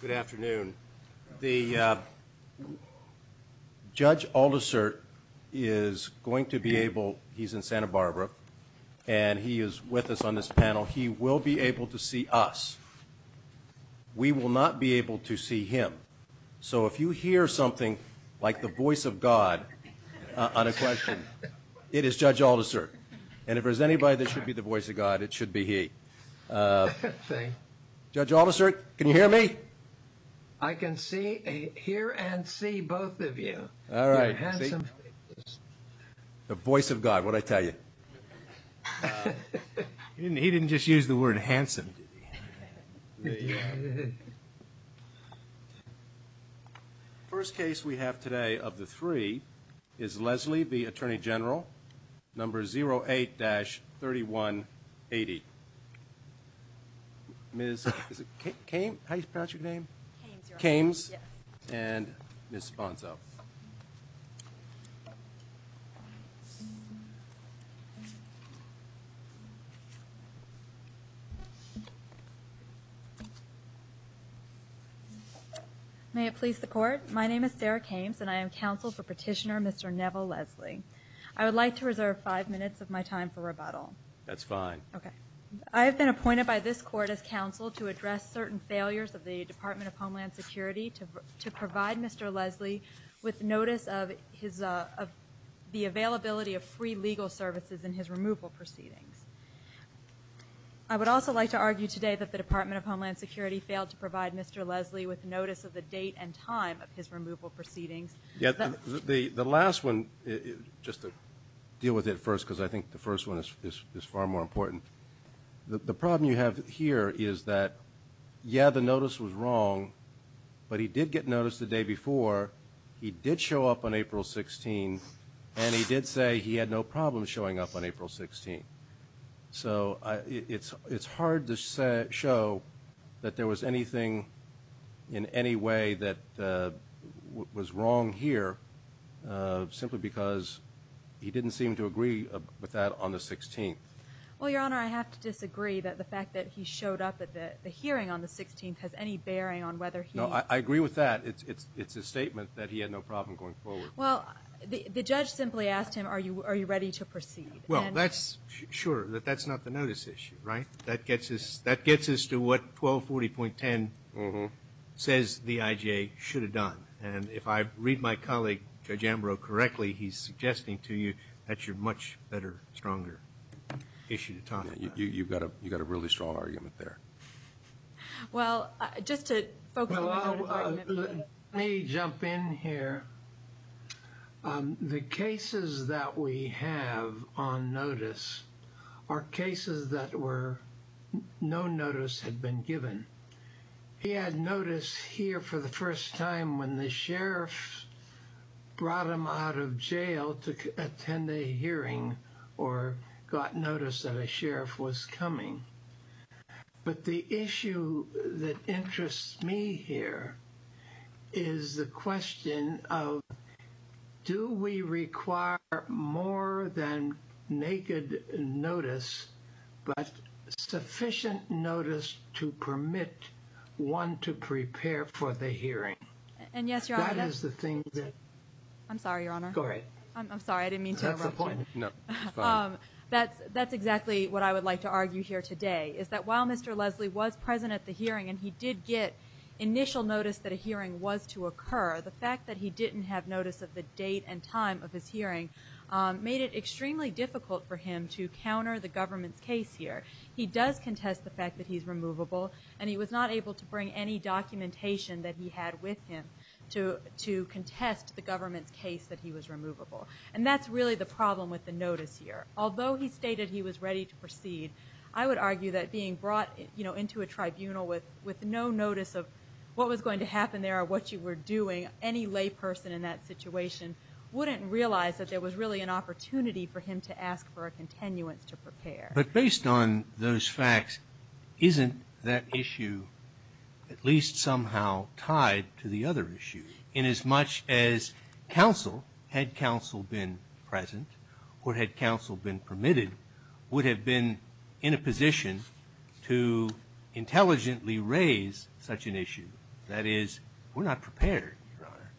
Good afternoon. The Judge Aldersert is going to be able, he's in Santa Barbara, and he is with us on this panel. He will be able to see us. We will not be able to see him. So if you hear something like the voice of God on a question, it is Judge Aldersert. And if there's anybody that should be the voice of God, it should be he. Judge Aldersert, can you hear me? I can see, hear, and see both of you. All right. The voice of God, what did I tell you? He didn't just use the word handsome, did he? First case we have today of the three is Leslie v. Attorney General, number 08-3180. Ms. Kames, how do you pronounce your name? Kames, Your Honor. Kames. Yes. And Ms. Bonzo. May it please the Court, my name is Sarah Kames, and I am counsel for Petitioner Mr. Neville Leslie. I would like to reserve five minutes of my time for rebuttal. That's fine. Okay. I have been appointed by this Court as counsel to address certain failures of the Department of Homeland Security to provide Mr. Leslie with notice of the availability of free legal services in his removal proceedings. I would also like to argue today that the Department of Homeland Security failed to provide Mr. Leslie with notice of the date and time of his removal proceedings. The last one, just to deal with it first because I think the first one is far more important. The problem you have here is that, yeah, the notice was wrong, but he did get notice the day before, he did show up on April 16th, and he did say he had no problem showing up on April 16th. So it's hard to show that there was anything in any way that was wrong here simply because he didn't seem to agree with that on the 16th. Well, Your Honor, I have to disagree that the fact that he showed up at the hearing on the 16th has any bearing on whether he – No, I agree with that. It's a statement that he had no problem going forward. Well, the judge simply asked him, are you ready to proceed? Well, that's – sure, but that's not the notice issue, right? That gets us to what 1240.10 says the IJ should have done. And if I read my colleague, Judge Ambrose, correctly, he's suggesting to you that's your much better, stronger issue to talk about. You've got a really strong argument there. Well, just to focus on the Department of – let me jump in here. The cases that we have on notice are cases that were – no notice had been given. He had notice here for the first time when the sheriff brought him out of jail to attend a hearing or got notice that a sheriff was coming. But the issue that interests me here is the question of, do we require more than naked notice, but sufficient notice to permit one to prepare for the hearing? And yes, Your Honor. That is the thing that – I'm sorry, Your Honor. Go ahead. I'm sorry, I didn't mean to interrupt you. That's the point. No, it's fine. That's exactly what I would like to argue here today, is that while Mr. Leslie was present at the hearing and he did get initial notice that a hearing was to occur, the fact that he didn't have notice of the date and time of his hearing made it extremely difficult for him to counter the government's case here. He does contest the fact that he's removable, and he was not able to bring any documentation that he had with him to contest the government's case that he was removable. And that's really the problem with the notice here. Although he stated he was ready to proceed, I would argue that being brought into a tribunal with no notice of what was going to happen there or what you were doing, any layperson in that situation wouldn't realize that there was really an opportunity for him to ask for a continuance to prepare. But based on those facts, isn't that issue at least somehow tied to the other issue? And as much as counsel, had counsel been present, or had counsel been permitted, would have been in a position to intelligently raise such an issue. That is, we're not prepared, Your Honor.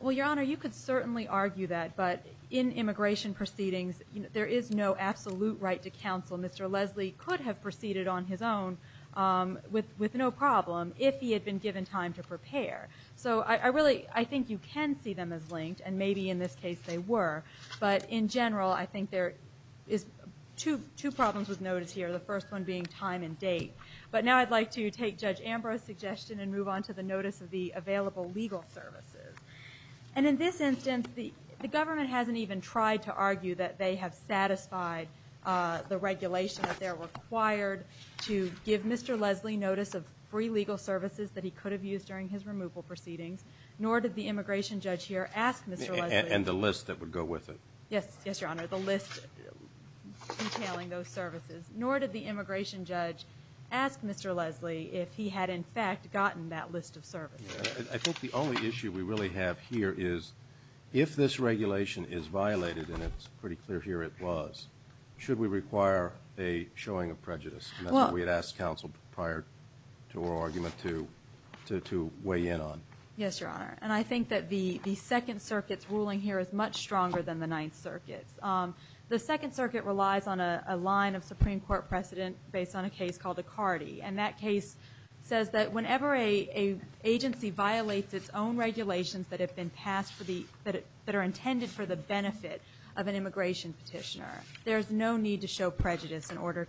Well, Your Honor, you could certainly argue that, but in immigration proceedings there is no absolute right to counsel. Mr. Leslie could have proceeded on his own with no problem if he had been given time to prepare. So I really think you can see them as linked, and maybe in this case they were. But in general, I think there is two problems with notice here, the first one being time and date. But now I'd like to take Judge Ambrose's suggestion and move on to the notice of the available legal services. And in this instance, the government hasn't even tried to argue that they have satisfied the regulation that they're required to give Mr. Leslie notice of free legal services that he could have used during his removal proceedings, nor did the immigration judge here ask Mr. Leslie. And the list that would go with it. Yes, Your Honor, the list entailing those services. Nor did the immigration judge ask Mr. Leslie if he had in fact gotten that list of services. I think the only issue we really have here is if this regulation is violated, and it's pretty clear here it was, should we require a showing of prejudice? And that's what we had asked counsel prior to our argument to weigh in on. Yes, Your Honor. And I think that the Second Circuit's ruling here is much stronger than the Ninth Circuit's. The Second Circuit relies on a line of Supreme Court precedent based on a case called Icardi. And that case says that whenever an agency violates its own regulations that have been passed that are intended for the benefit of an immigration petitioner, there's no need to show prejudice in order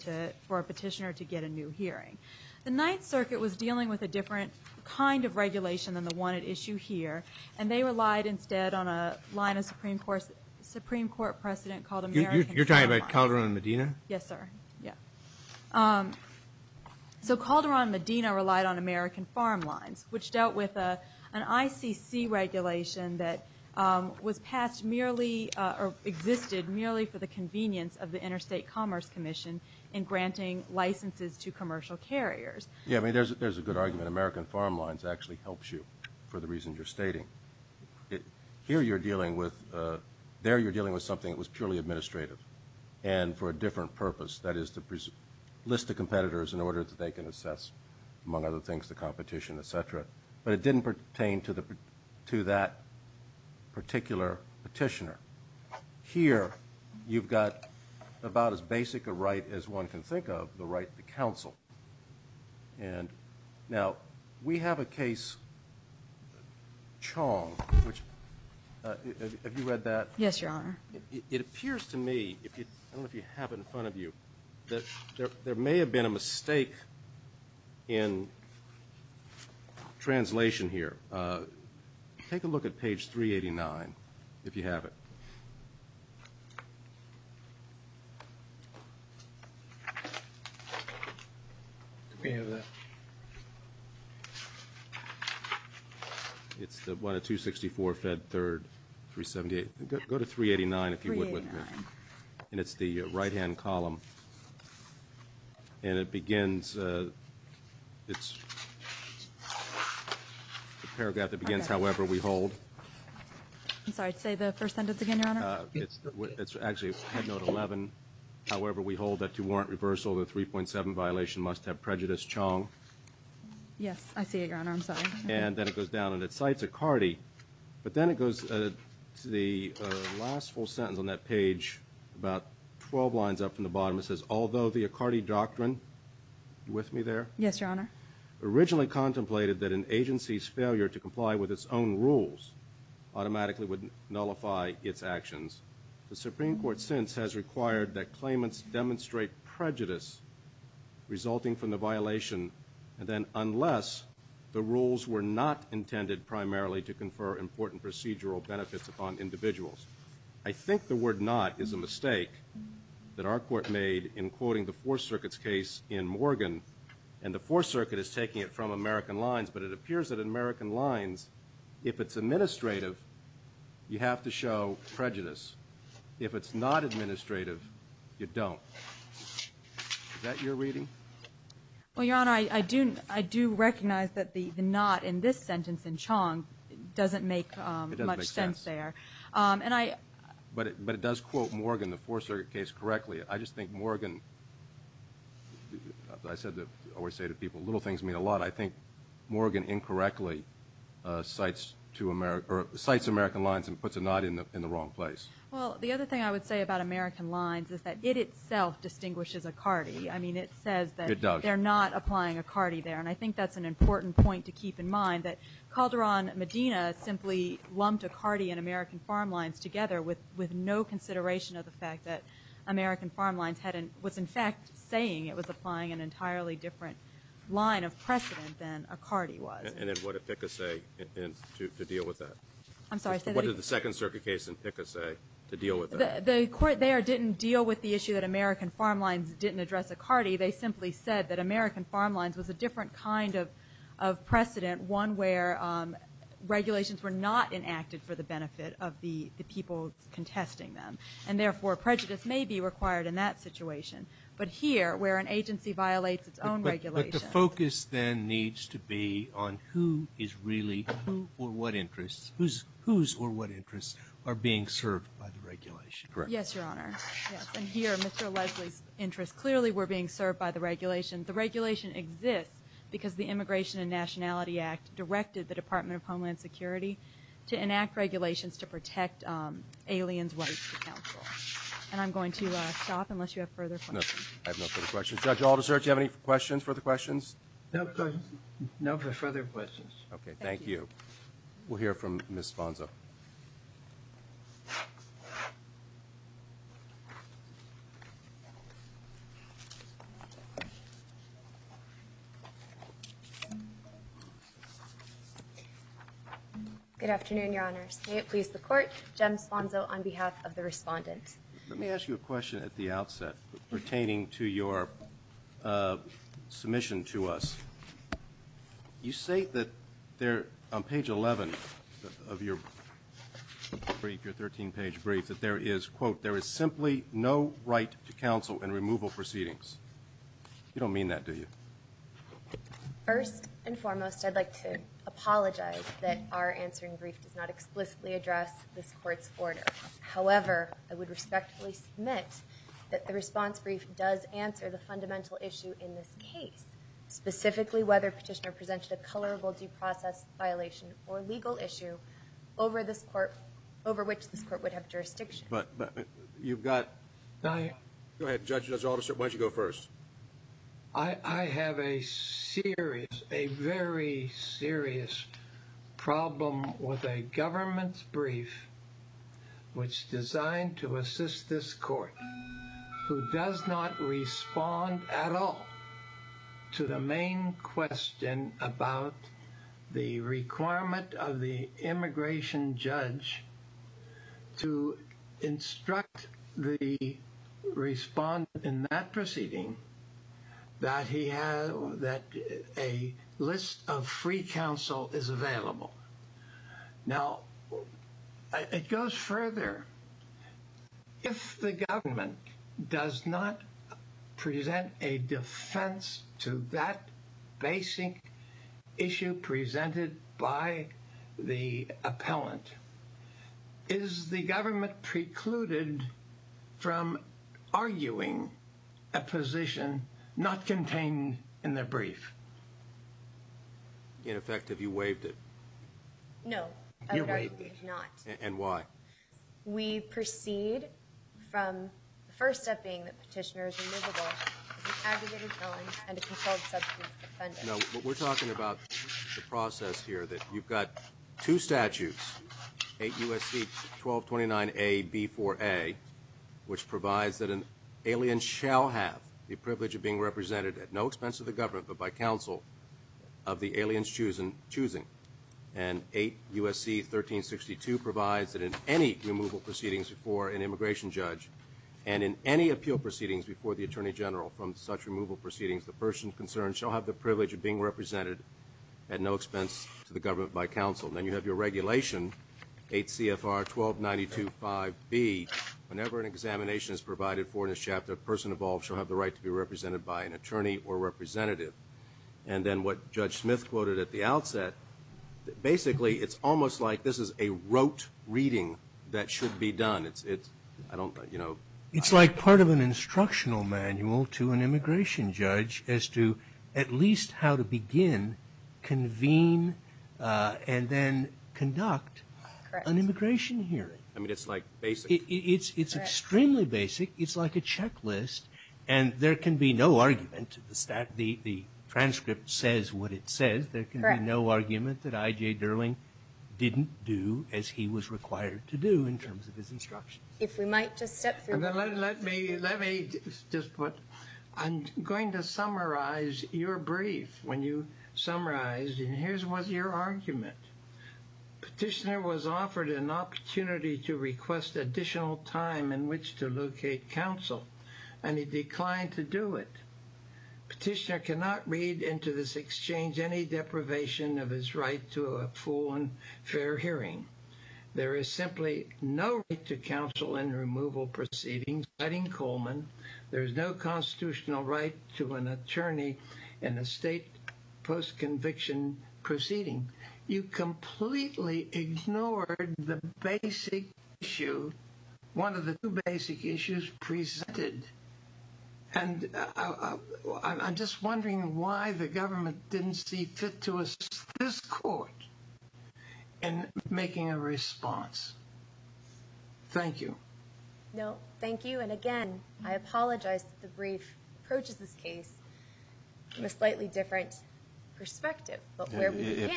for a petitioner to get a new hearing. The Ninth Circuit was dealing with a different kind of regulation than the one at issue here, and they relied instead on a line of Supreme Court precedent called American Farm Lines. You're talking about Calderon and Medina? Yes, sir. So Calderon and Medina relied on American Farm Lines, which dealt with an ICC regulation that was passed merely, or existed merely for the convenience of the Interstate Commerce Commission in granting licenses to commercial carriers. Yes, I mean, there's a good argument. American Farm Lines actually helps you for the reasons you're stating. Here you're dealing with something that was purely administrative and for a different purpose, that is to list the competitors in order that they can assess, among other things, the competition, et cetera. But it didn't pertain to that particular petitioner. Here you've got about as basic a right as one can think of, the right to counsel. Now, we have a case, Chong, which, have you read that? Yes, Your Honor. It appears to me, I don't know if you have it in front of you, there may have been a mistake in translation here. Take a look at page 389, if you have it. Do we have that? It's the 164, Fed 3rd, 378. Go to 389 if you would. 389. And it's the right-hand column. And it begins, it's the paragraph that begins, however we hold. I'm sorry, say the first sentence again, Your Honor. It's actually Head Note 11, however we hold, that to warrant reversal, the 3.7 violation must have prejudiced Chong. Yes, I see it, Your Honor. I'm sorry. And then it goes down and it cites a cardi. But then it goes to the last full sentence on that page, about 12 lines up from the bottom. It says, although the Accardi Doctrine, you with me there? Yes, Your Honor. Originally contemplated that an agency's failure to comply with its own rules automatically would nullify its actions. The Supreme Court since has required that claimants demonstrate prejudice resulting from the violation, and then unless the rules were not intended primarily to confer important procedural benefits upon individuals. I think the word not is a mistake that our court made in quoting the Fourth Circuit's case in Morgan. And the Fourth Circuit is taking it from American Lines, but it appears that in American Lines, if it's administrative, you have to show prejudice. If it's not administrative, you don't. Is that your reading? Well, Your Honor, I do recognize that the not in this sentence in Chong doesn't make much sense there. It doesn't make sense. But it does quote Morgan, the Fourth Circuit case, correctly. I just think Morgan, I always say to people, little things mean a lot. I think Morgan incorrectly cites American Lines and puts a not in the wrong place. Well, the other thing I would say about American Lines is that it itself distinguishes a cardi. I mean, it says that they're not applying a cardi there. And I think that's an important point to keep in mind, that Calderon Medina simply lumped a cardi in American Farm Lines together with no consideration of the fact that American Farm Lines was, in fact, saying it was applying an entirely different line of precedent than a cardi was. And then what did PICA say to deal with that? I'm sorry. What did the Second Circuit case in PICA say to deal with that? Well, the court there didn't deal with the issue that American Farm Lines didn't address a cardi. They simply said that American Farm Lines was a different kind of precedent, one where regulations were not enacted for the benefit of the people contesting them. And therefore, prejudice may be required in that situation. But here, where an agency violates its own regulations. But the focus then needs to be on who is really, who or what interests, whose or what interests are being served by the regulation. Yes, Your Honor. And here, Mr. Leslie's interests clearly were being served by the regulation. The regulation exists because the Immigration and Nationality Act directed the Department of Homeland Security to enact regulations to protect aliens rights to counsel. And I'm going to stop unless you have further questions. I have no further questions. Judge Aldersert, do you have any questions, further questions? No further questions. Okay, thank you. We'll hear from Ms. Sponzo. Good afternoon, Your Honors. May it please the Court, Jem Sponzo on behalf of the Respondent. Let me ask you a question at the outset pertaining to your submission to us. You say that there, on page 11 of your brief, your 13-page brief, that there is, quote, there is simply no right to counsel in removal proceedings. You don't mean that, do you? First and foremost, I'd like to apologize that our answering brief does not explicitly address this Court's order. However, I would respectfully submit that the response brief does answer the question, particularly whether Petitioner presented a colorable due process violation or legal issue over this Court, over which this Court would have jurisdiction. But you've got, go ahead, Judge Aldersert, why don't you go first? I have a serious, a very serious problem with a government's brief, which designed to assist this Court, who does not respond at all to the main question about the requirement of the immigration judge to instruct the Respondent in that proceeding that he has, that a list of free counsel is available. Now, it goes further. If the government does not present a defense to that basic issue presented by the appellant, is the government precluded from arguing a position not contained in the brief? In effect, have you waived it? No, I would argue not. And why? Well, we proceed from the first step being that Petitioner is removable as an aggravated violence and a controlled substance offender. No, we're talking about the process here that you've got two statutes, 8 U.S.C. 1229A-B4A, which provides that an alien shall have the privilege of being represented at no expense to the government but by counsel of the alien's choosing. And 8 U.S.C. 1362 provides that in any removal proceedings before an immigration judge and in any appeal proceedings before the Attorney General from such removal proceedings, the person concerned shall have the privilege of being represented at no expense to the government by counsel. Then you have your regulation, 8 CFR 1292-5B, whenever an examination is provided for in a chapter, a person involved shall have the right to be represented by an attorney or representative. And then what Judge Smith quoted at the outset, basically it's almost like this is a rote reading that should be done. It's, I don't, you know. It's like part of an instructional manual to an immigration judge as to at least how to begin, convene, and then conduct an immigration hearing. I mean, it's like basic. It's extremely basic. It's like a checklist. And there can be no argument. The transcript says what it says. There can be no argument that I.J. Durling didn't do as he was required to do in terms of his instructions. If we might just step through. Let me just put. I'm going to summarize your brief. When you summarized and here's what your argument. Petitioner was offered an opportunity to request additional time in which to do it. Petitioner cannot read into this exchange, any deprivation of his right to a full and fair hearing. There is simply no right to counsel in removal proceedings. I think Coleman, there is no constitutional right to an attorney and the state post conviction proceeding. You completely ignored the basic issue. One of the two basic issues presented. And I'm just wondering why the government didn't see fit to assist this court. And making a response. Thank you. No, thank you. And again, I apologize. The brief approaches this case. In a slightly different. Perspective.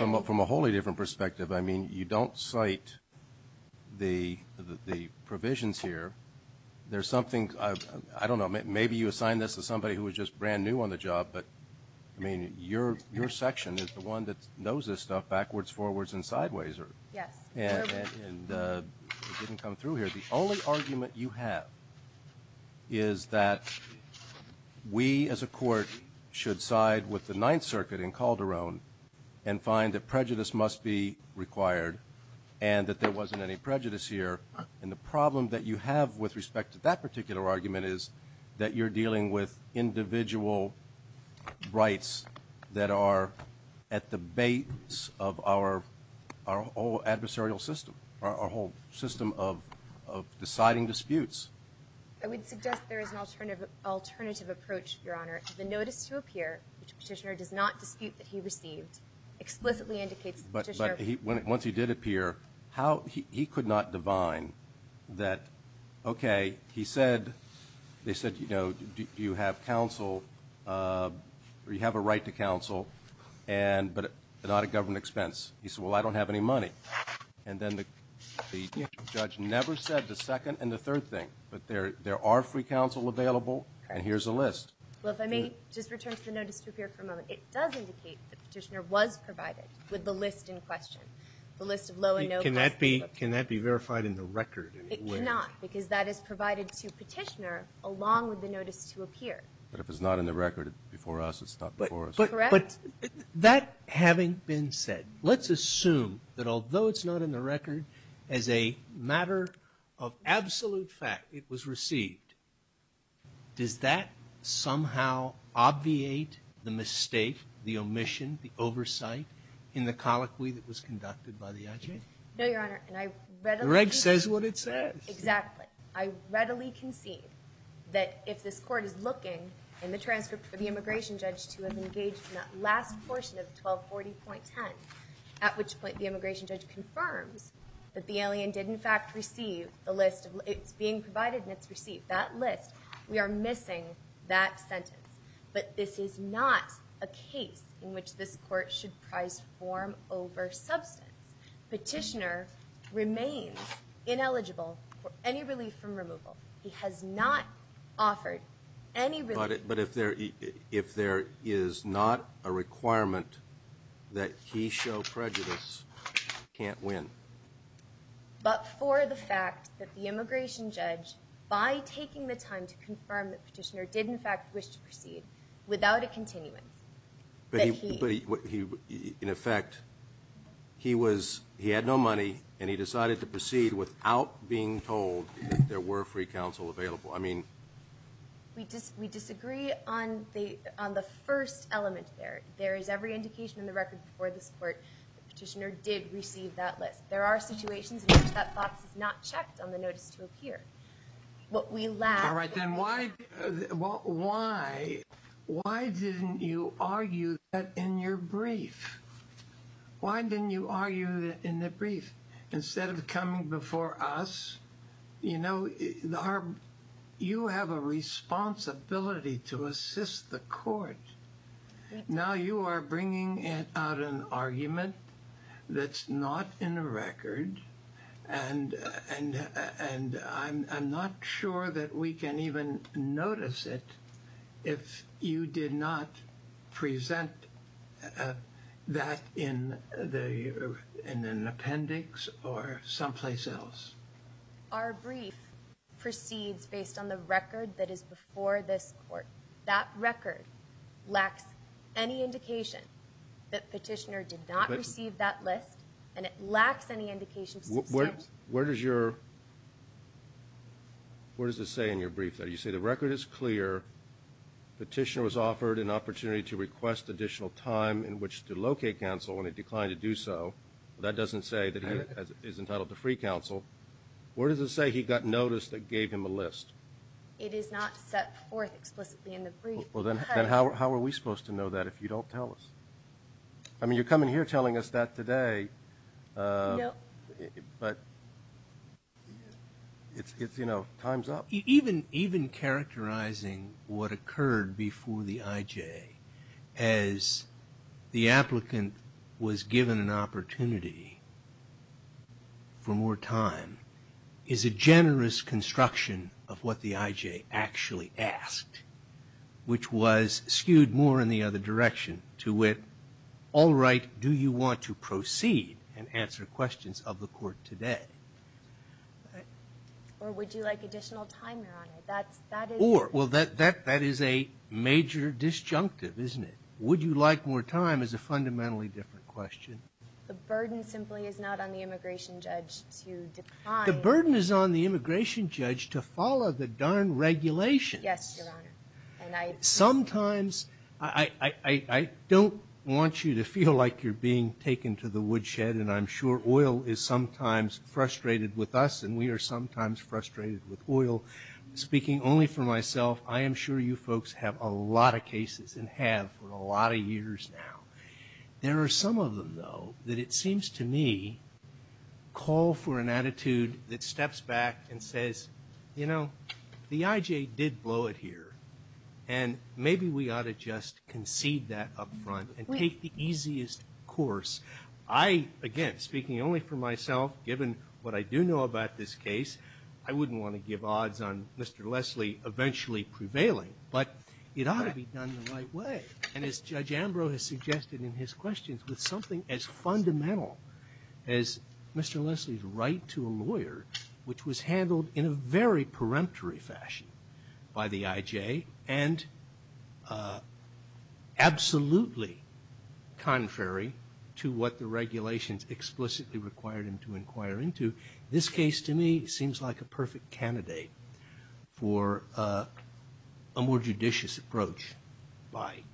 From a wholly different perspective. I mean, you don't cite. The. Provisions here. There's something. I don't know. Maybe you assign this to somebody who was just brand new on the job. But. I mean, your, your section is the one that knows this stuff. Backwards, forwards and sideways. Yes. And. Didn't come through here. The only argument you have. Is that. We as a court. Should side with the ninth circuit in Calderon. And find that prejudice must be required. And that there wasn't any prejudice here. And the problem that you have with respect to that particular argument is. That you're dealing with individual. Rights. That are. At the base of our. Our whole adversarial system. Our whole system of. Of deciding disputes. I would suggest there is an alternative. Alternative approach, your honor. The notice to appear. Which petitioner does not dispute that he received. Explicitly indicates. Once he did appear. How he could not divine. That. Okay. He said. They said, you know, do you have counsel. We have a right to counsel. And but. Not a government expense. He said, well, I don't have any money. And then the. Judge never said the second and the third thing. But there, there are free counsel available. And here's a list. Well, if I may. Just return to the notice to appear for a moment. It does indicate the petitioner was provided. With the list in question. The list of low and no. Cannot be. Cannot be verified in the record. It cannot. Because that is provided to petitioner. Along with the notice to appear. But if it's not in the record. Before us, it's not. But. That having been said. Let's assume. That although it's not in the record. As a matter. Of absolute fact. It was received. Does that. Somehow. Obviate. The mistake. The omission. The oversight. In the colloquy that was conducted by the. No, your honor. And I read. The reg says what it says. Exactly. I readily concede. That if this court is looking. In the transcript for the immigration judge. To have engaged in that last portion of 1240.10. At which point the immigration judge confirms. That the alien did in fact receive. The list of it's being provided and it's received that list. We are missing. That sentence. But this is not. A case. In which this court should price. Warm over substance. Petitioner. Remains. Ineligible. For any relief from removal. He has not. Offered. Any. But if there. If there. Is not a requirement. That he show prejudice. Can't win. But for the fact. That the immigration judge. By taking the time to confirm. That petitioner did in fact. Wish to proceed. Without a continuum. But he. In effect. He was. He had no money. And he decided to proceed. Without being told. There were free counsel available. I mean. We just we disagree on the. On the first element there. There is every indication in the record. For this court. Petitioner did receive that list. There are situations. That box is not checked on the notice to appear. What we laugh. All right. Then why. Why. Why didn't you argue. That in your brief. Why didn't you argue. In the brief. Instead of coming before us. You know. You have a responsibility. To assist the court. Now you are bringing. Out an argument. That's not in the record. And. And I'm not sure. That we can even notice it. If you did not. Present. That in the. In an appendix. Or someplace else. Our brief. Proceeds based on the record. That is before this court. That record. Lacks any indication. That petitioner did not receive that list. And it lacks any indication. Where does your. Where does it say in your brief. That you see the record is clear. Petitioner was offered an opportunity to request additional time. In which to locate counsel. When it declined to do so. That doesn't say that. Is entitled to free counsel. Where does it say he got notice that gave him a list. It is not set forth. Explicitly in the brief. How are we supposed to know that if you don't tell us. I mean, you're coming here telling us that today. But. It's, you know, time's up. Even, even characterizing. What occurred before the IJ. As. The applicant. Was given an opportunity. For more time. Is a generous construction. Of what the IJ actually asked. Which was skewed more in the other direction. To wit. All right. Do you want to proceed. And answer questions of the court today. Or would you like additional time. That's that. Well, that that that is a major disjunctive. Isn't it. Would you like more time is a fundamentally different question. The burden simply is not on the immigration judge. The burden is on the immigration judge to follow the darn regulation. Yes. Sometimes. I don't want you to feel like you're being taken to the woodshed. And I'm sure oil is sometimes frustrated with us. And we are sometimes frustrated with oil. Speaking only for myself. I am sure you folks have a lot of cases. And have for a lot of years now. There are some of them though. That it seems to me. Call for an attitude that steps back and says. You know. The IJ did blow it here. And maybe we ought to just concede that up front. And take the easiest course. I again speaking only for myself. Given what I do know about this case. I wouldn't want to give odds on Mr. Leslie eventually prevailing. But it ought to be done the right way. And as Judge Ambrose has suggested in his questions. With something as fundamental. As Mr. Leslie's right to a lawyer. Which was handled in a very peremptory fashion. By the IJ. And absolutely contrary. To what the regulations explicitly required him to inquire into. This case to me seems like a perfect candidate. For a more judicious approach. By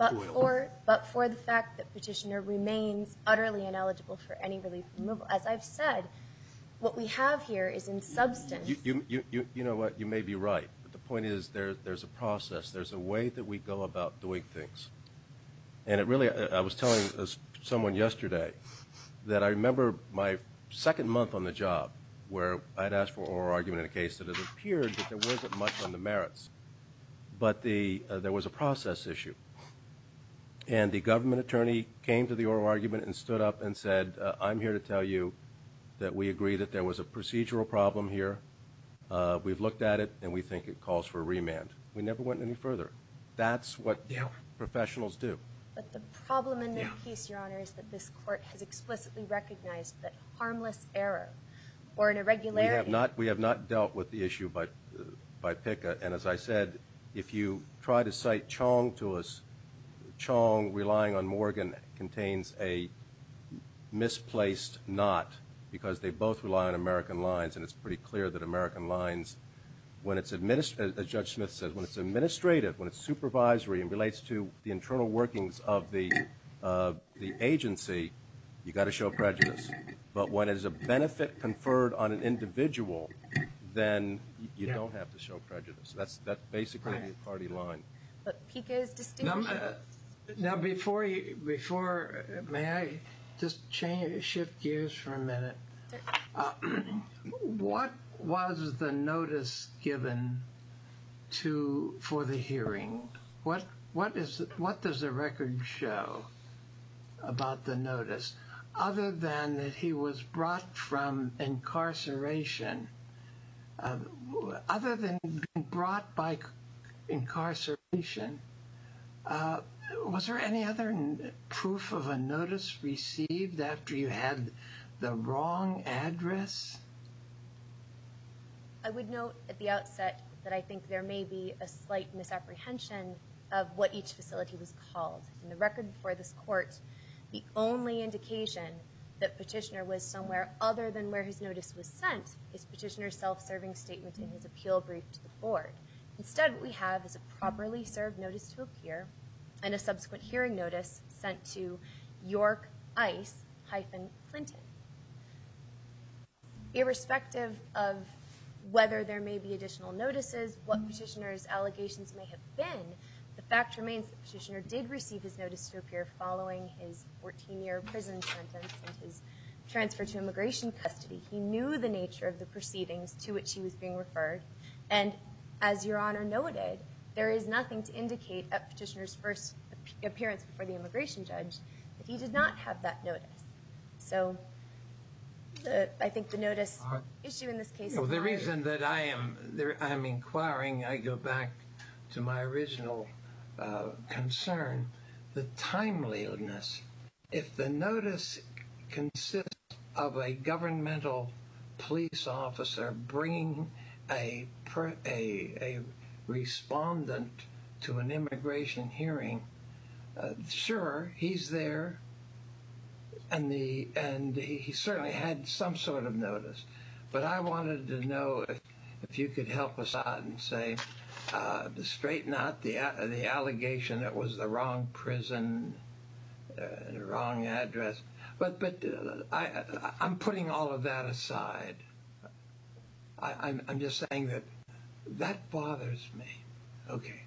oil. But for the fact that Petitioner remains utterly ineligible for any relief. As I've said. What we have here is in substance. You know what. You may be right. But the point is. There's a process. There's a way that we go about doing things. And it really. I was telling someone yesterday. That I remember my second month on the job. Where I'd asked for oral argument in a case. That it appeared that there wasn't much on the merits. But there was a process issue. And the government attorney came to the oral argument. And stood up and said. I'm here to tell you. That we agree that there was a procedural problem here. We've looked at it. And we think it calls for a remand. We never went any further. That's what professionals do. But the problem in this case, your honor. Is that this court has explicitly recognized that harmless error. Or an irregularity. We have not dealt with the issue by PICA. And as I said. If you try to cite Chong to us. Chong relying on Morgan. Contains a misplaced not. Because they both rely on American Lines. And it's pretty clear that American Lines. When it's, as Judge Smith said. When it's administrative. When it's supervisory. And relates to the internal workings of the agency. You've got to show prejudice. But when it's a benefit conferred on an individual. Then you don't have to show prejudice. That's basically the party line. But PICA is distinguished. Now before. May I just shift gears for a minute. What was the notice given to. For the hearing. What does the record show. About the notice. Other than that he was brought from incarceration. Other than being brought by incarceration. Was there any other proof of a notice received. After you had the wrong address. I would note at the outset. That I think there may be a slight misapprehension. Of what each facility was called. In the record before this court. The only indication. That petitioner was somewhere other than where his notice was sent. Is petitioner's self-serving statement. In his appeal brief to the board. Instead what we have is a properly served notice to appear. And a subsequent hearing notice. Sent to York Ice. Hyphen Clinton. Irrespective of whether there may be additional notices. What petitioner's allegations may have been. The fact remains that the petitioner did receive his notice to appear. Following his 14 year prison sentence. And his transfer to immigration custody. He knew the nature of the proceedings to which he was being referred. And as your honor noted. There is nothing to indicate. At petitioner's first appearance before the immigration judge. That he did not have that notice. So I think the notice issue in this case. The reason that I am inquiring. I go back to my original concern. The timeliness. If the notice consists of a governmental police officer. Bringing a respondent to an immigration hearing. Sure he is there. And he certainly had some sort of notice. But I wanted to know if you could help us out. Straighten out the allegation that was the wrong prison. The wrong address. But I'm putting all of that aside. I'm just saying that. That bothers me. Okay.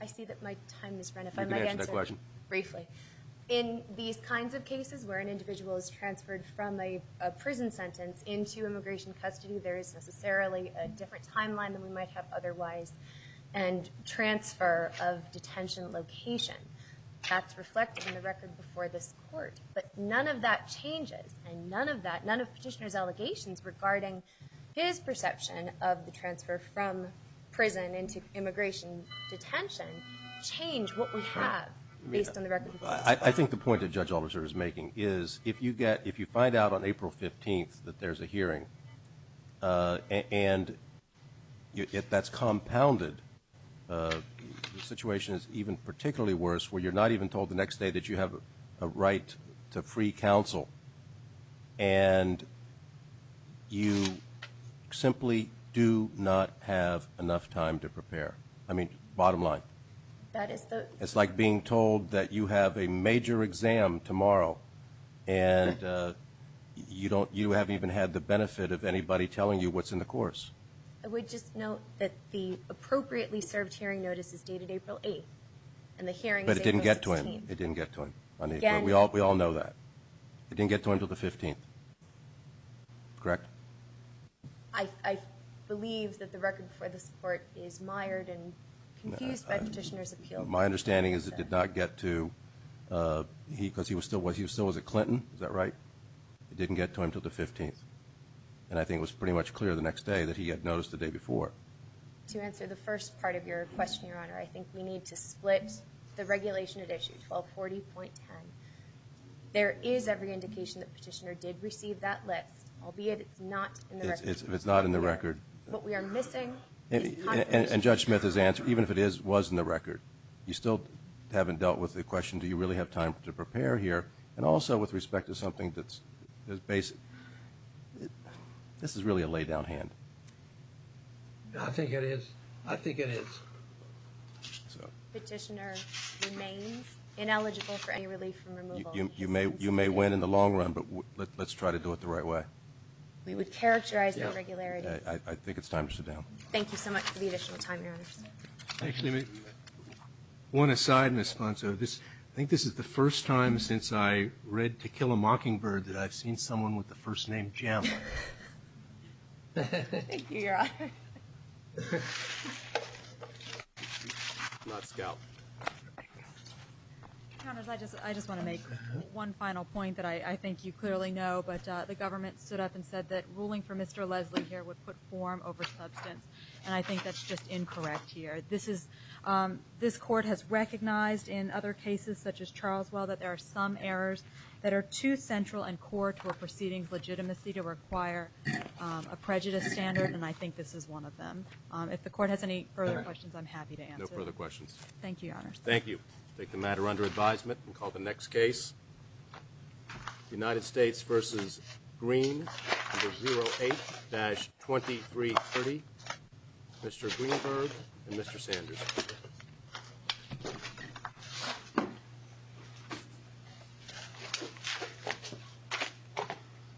I see that my time has run out. Briefly. In these kinds of cases. Where an individual is transferred from a prison sentence. Into immigration custody. There is necessarily a different timeline than we might have otherwise. And transfer of detention location. That's reflected in the record before this court. But none of that changes. And none of that. None of petitioner's allegations. Regarding his perception of the transfer from prison. Into immigration detention. Change what we have. Based on the record. I think the point the judge officer is making. Is if you get. If you find out on April 15th. That there's a hearing. And. If that's compounded. The situation is even particularly worse. Where you're not even told the next day that you have. A right to free counsel. And. You. Simply do not have enough time to prepare. I mean, bottom line. It's like being told that you have a major exam tomorrow. And. You don't. You haven't even had the benefit of anybody telling you what's in the course. I would just note that the appropriately served hearing notices dated April 8th. And the hearing. But it didn't get to him. It didn't get to him. We all. We all know that. It didn't get to him to the 15th. Correct. I. Believe that the record for the support is mired and. Confused by petitioner's appeal. My understanding is it did not get to. He, because he was still with you. So is it Clinton? Is that right? It didn't get to him to the 15th. And I think it was pretty much clear the next day that he had noticed the day before. To answer the first part of your question, your honor. I think we need to split. The regulation had issued 1240.10. There is every indication that petitioner did receive that list. I'll be it. It's not in the record. It's not in the record. But we are missing. And judge Smith has answered. Even if it is, was in the record. You still haven't dealt with the question. Do you really have time to prepare here? And also with respect to something that's basic. This is really a lay down hand. I think it is. I think it is. Petitioner remains ineligible for any relief from removal. You may win in the long run. But let's try to do it the right way. We would characterize that regularity. I think it's time to sit down. Thank you so much for the additional time, your honor. Actually, one aside, Ms. Ponso. I think this is the first time since I read To Kill a Mockingbird that I've seen someone with the first name Jim. Thank you, your honor. Last count. I just want to make one final point that I think you clearly know. But the government stood up and said that ruling for Mr. Leslie here would put form over substance. And I think that's just incorrect here. This court has recognized in other cases, such as Charleswell, that there are some errors that are too central and core to a proceeding's legitimacy to require a prejudice standard. And I think this is one of them. If the court has any further questions, I'm happy to answer them. No further questions. Thank you, your honor. Thank you. Take the matter under advisement and call the next case. United States v. Green, number 08-2330. Mr. Greenberg and Mr. Sanders.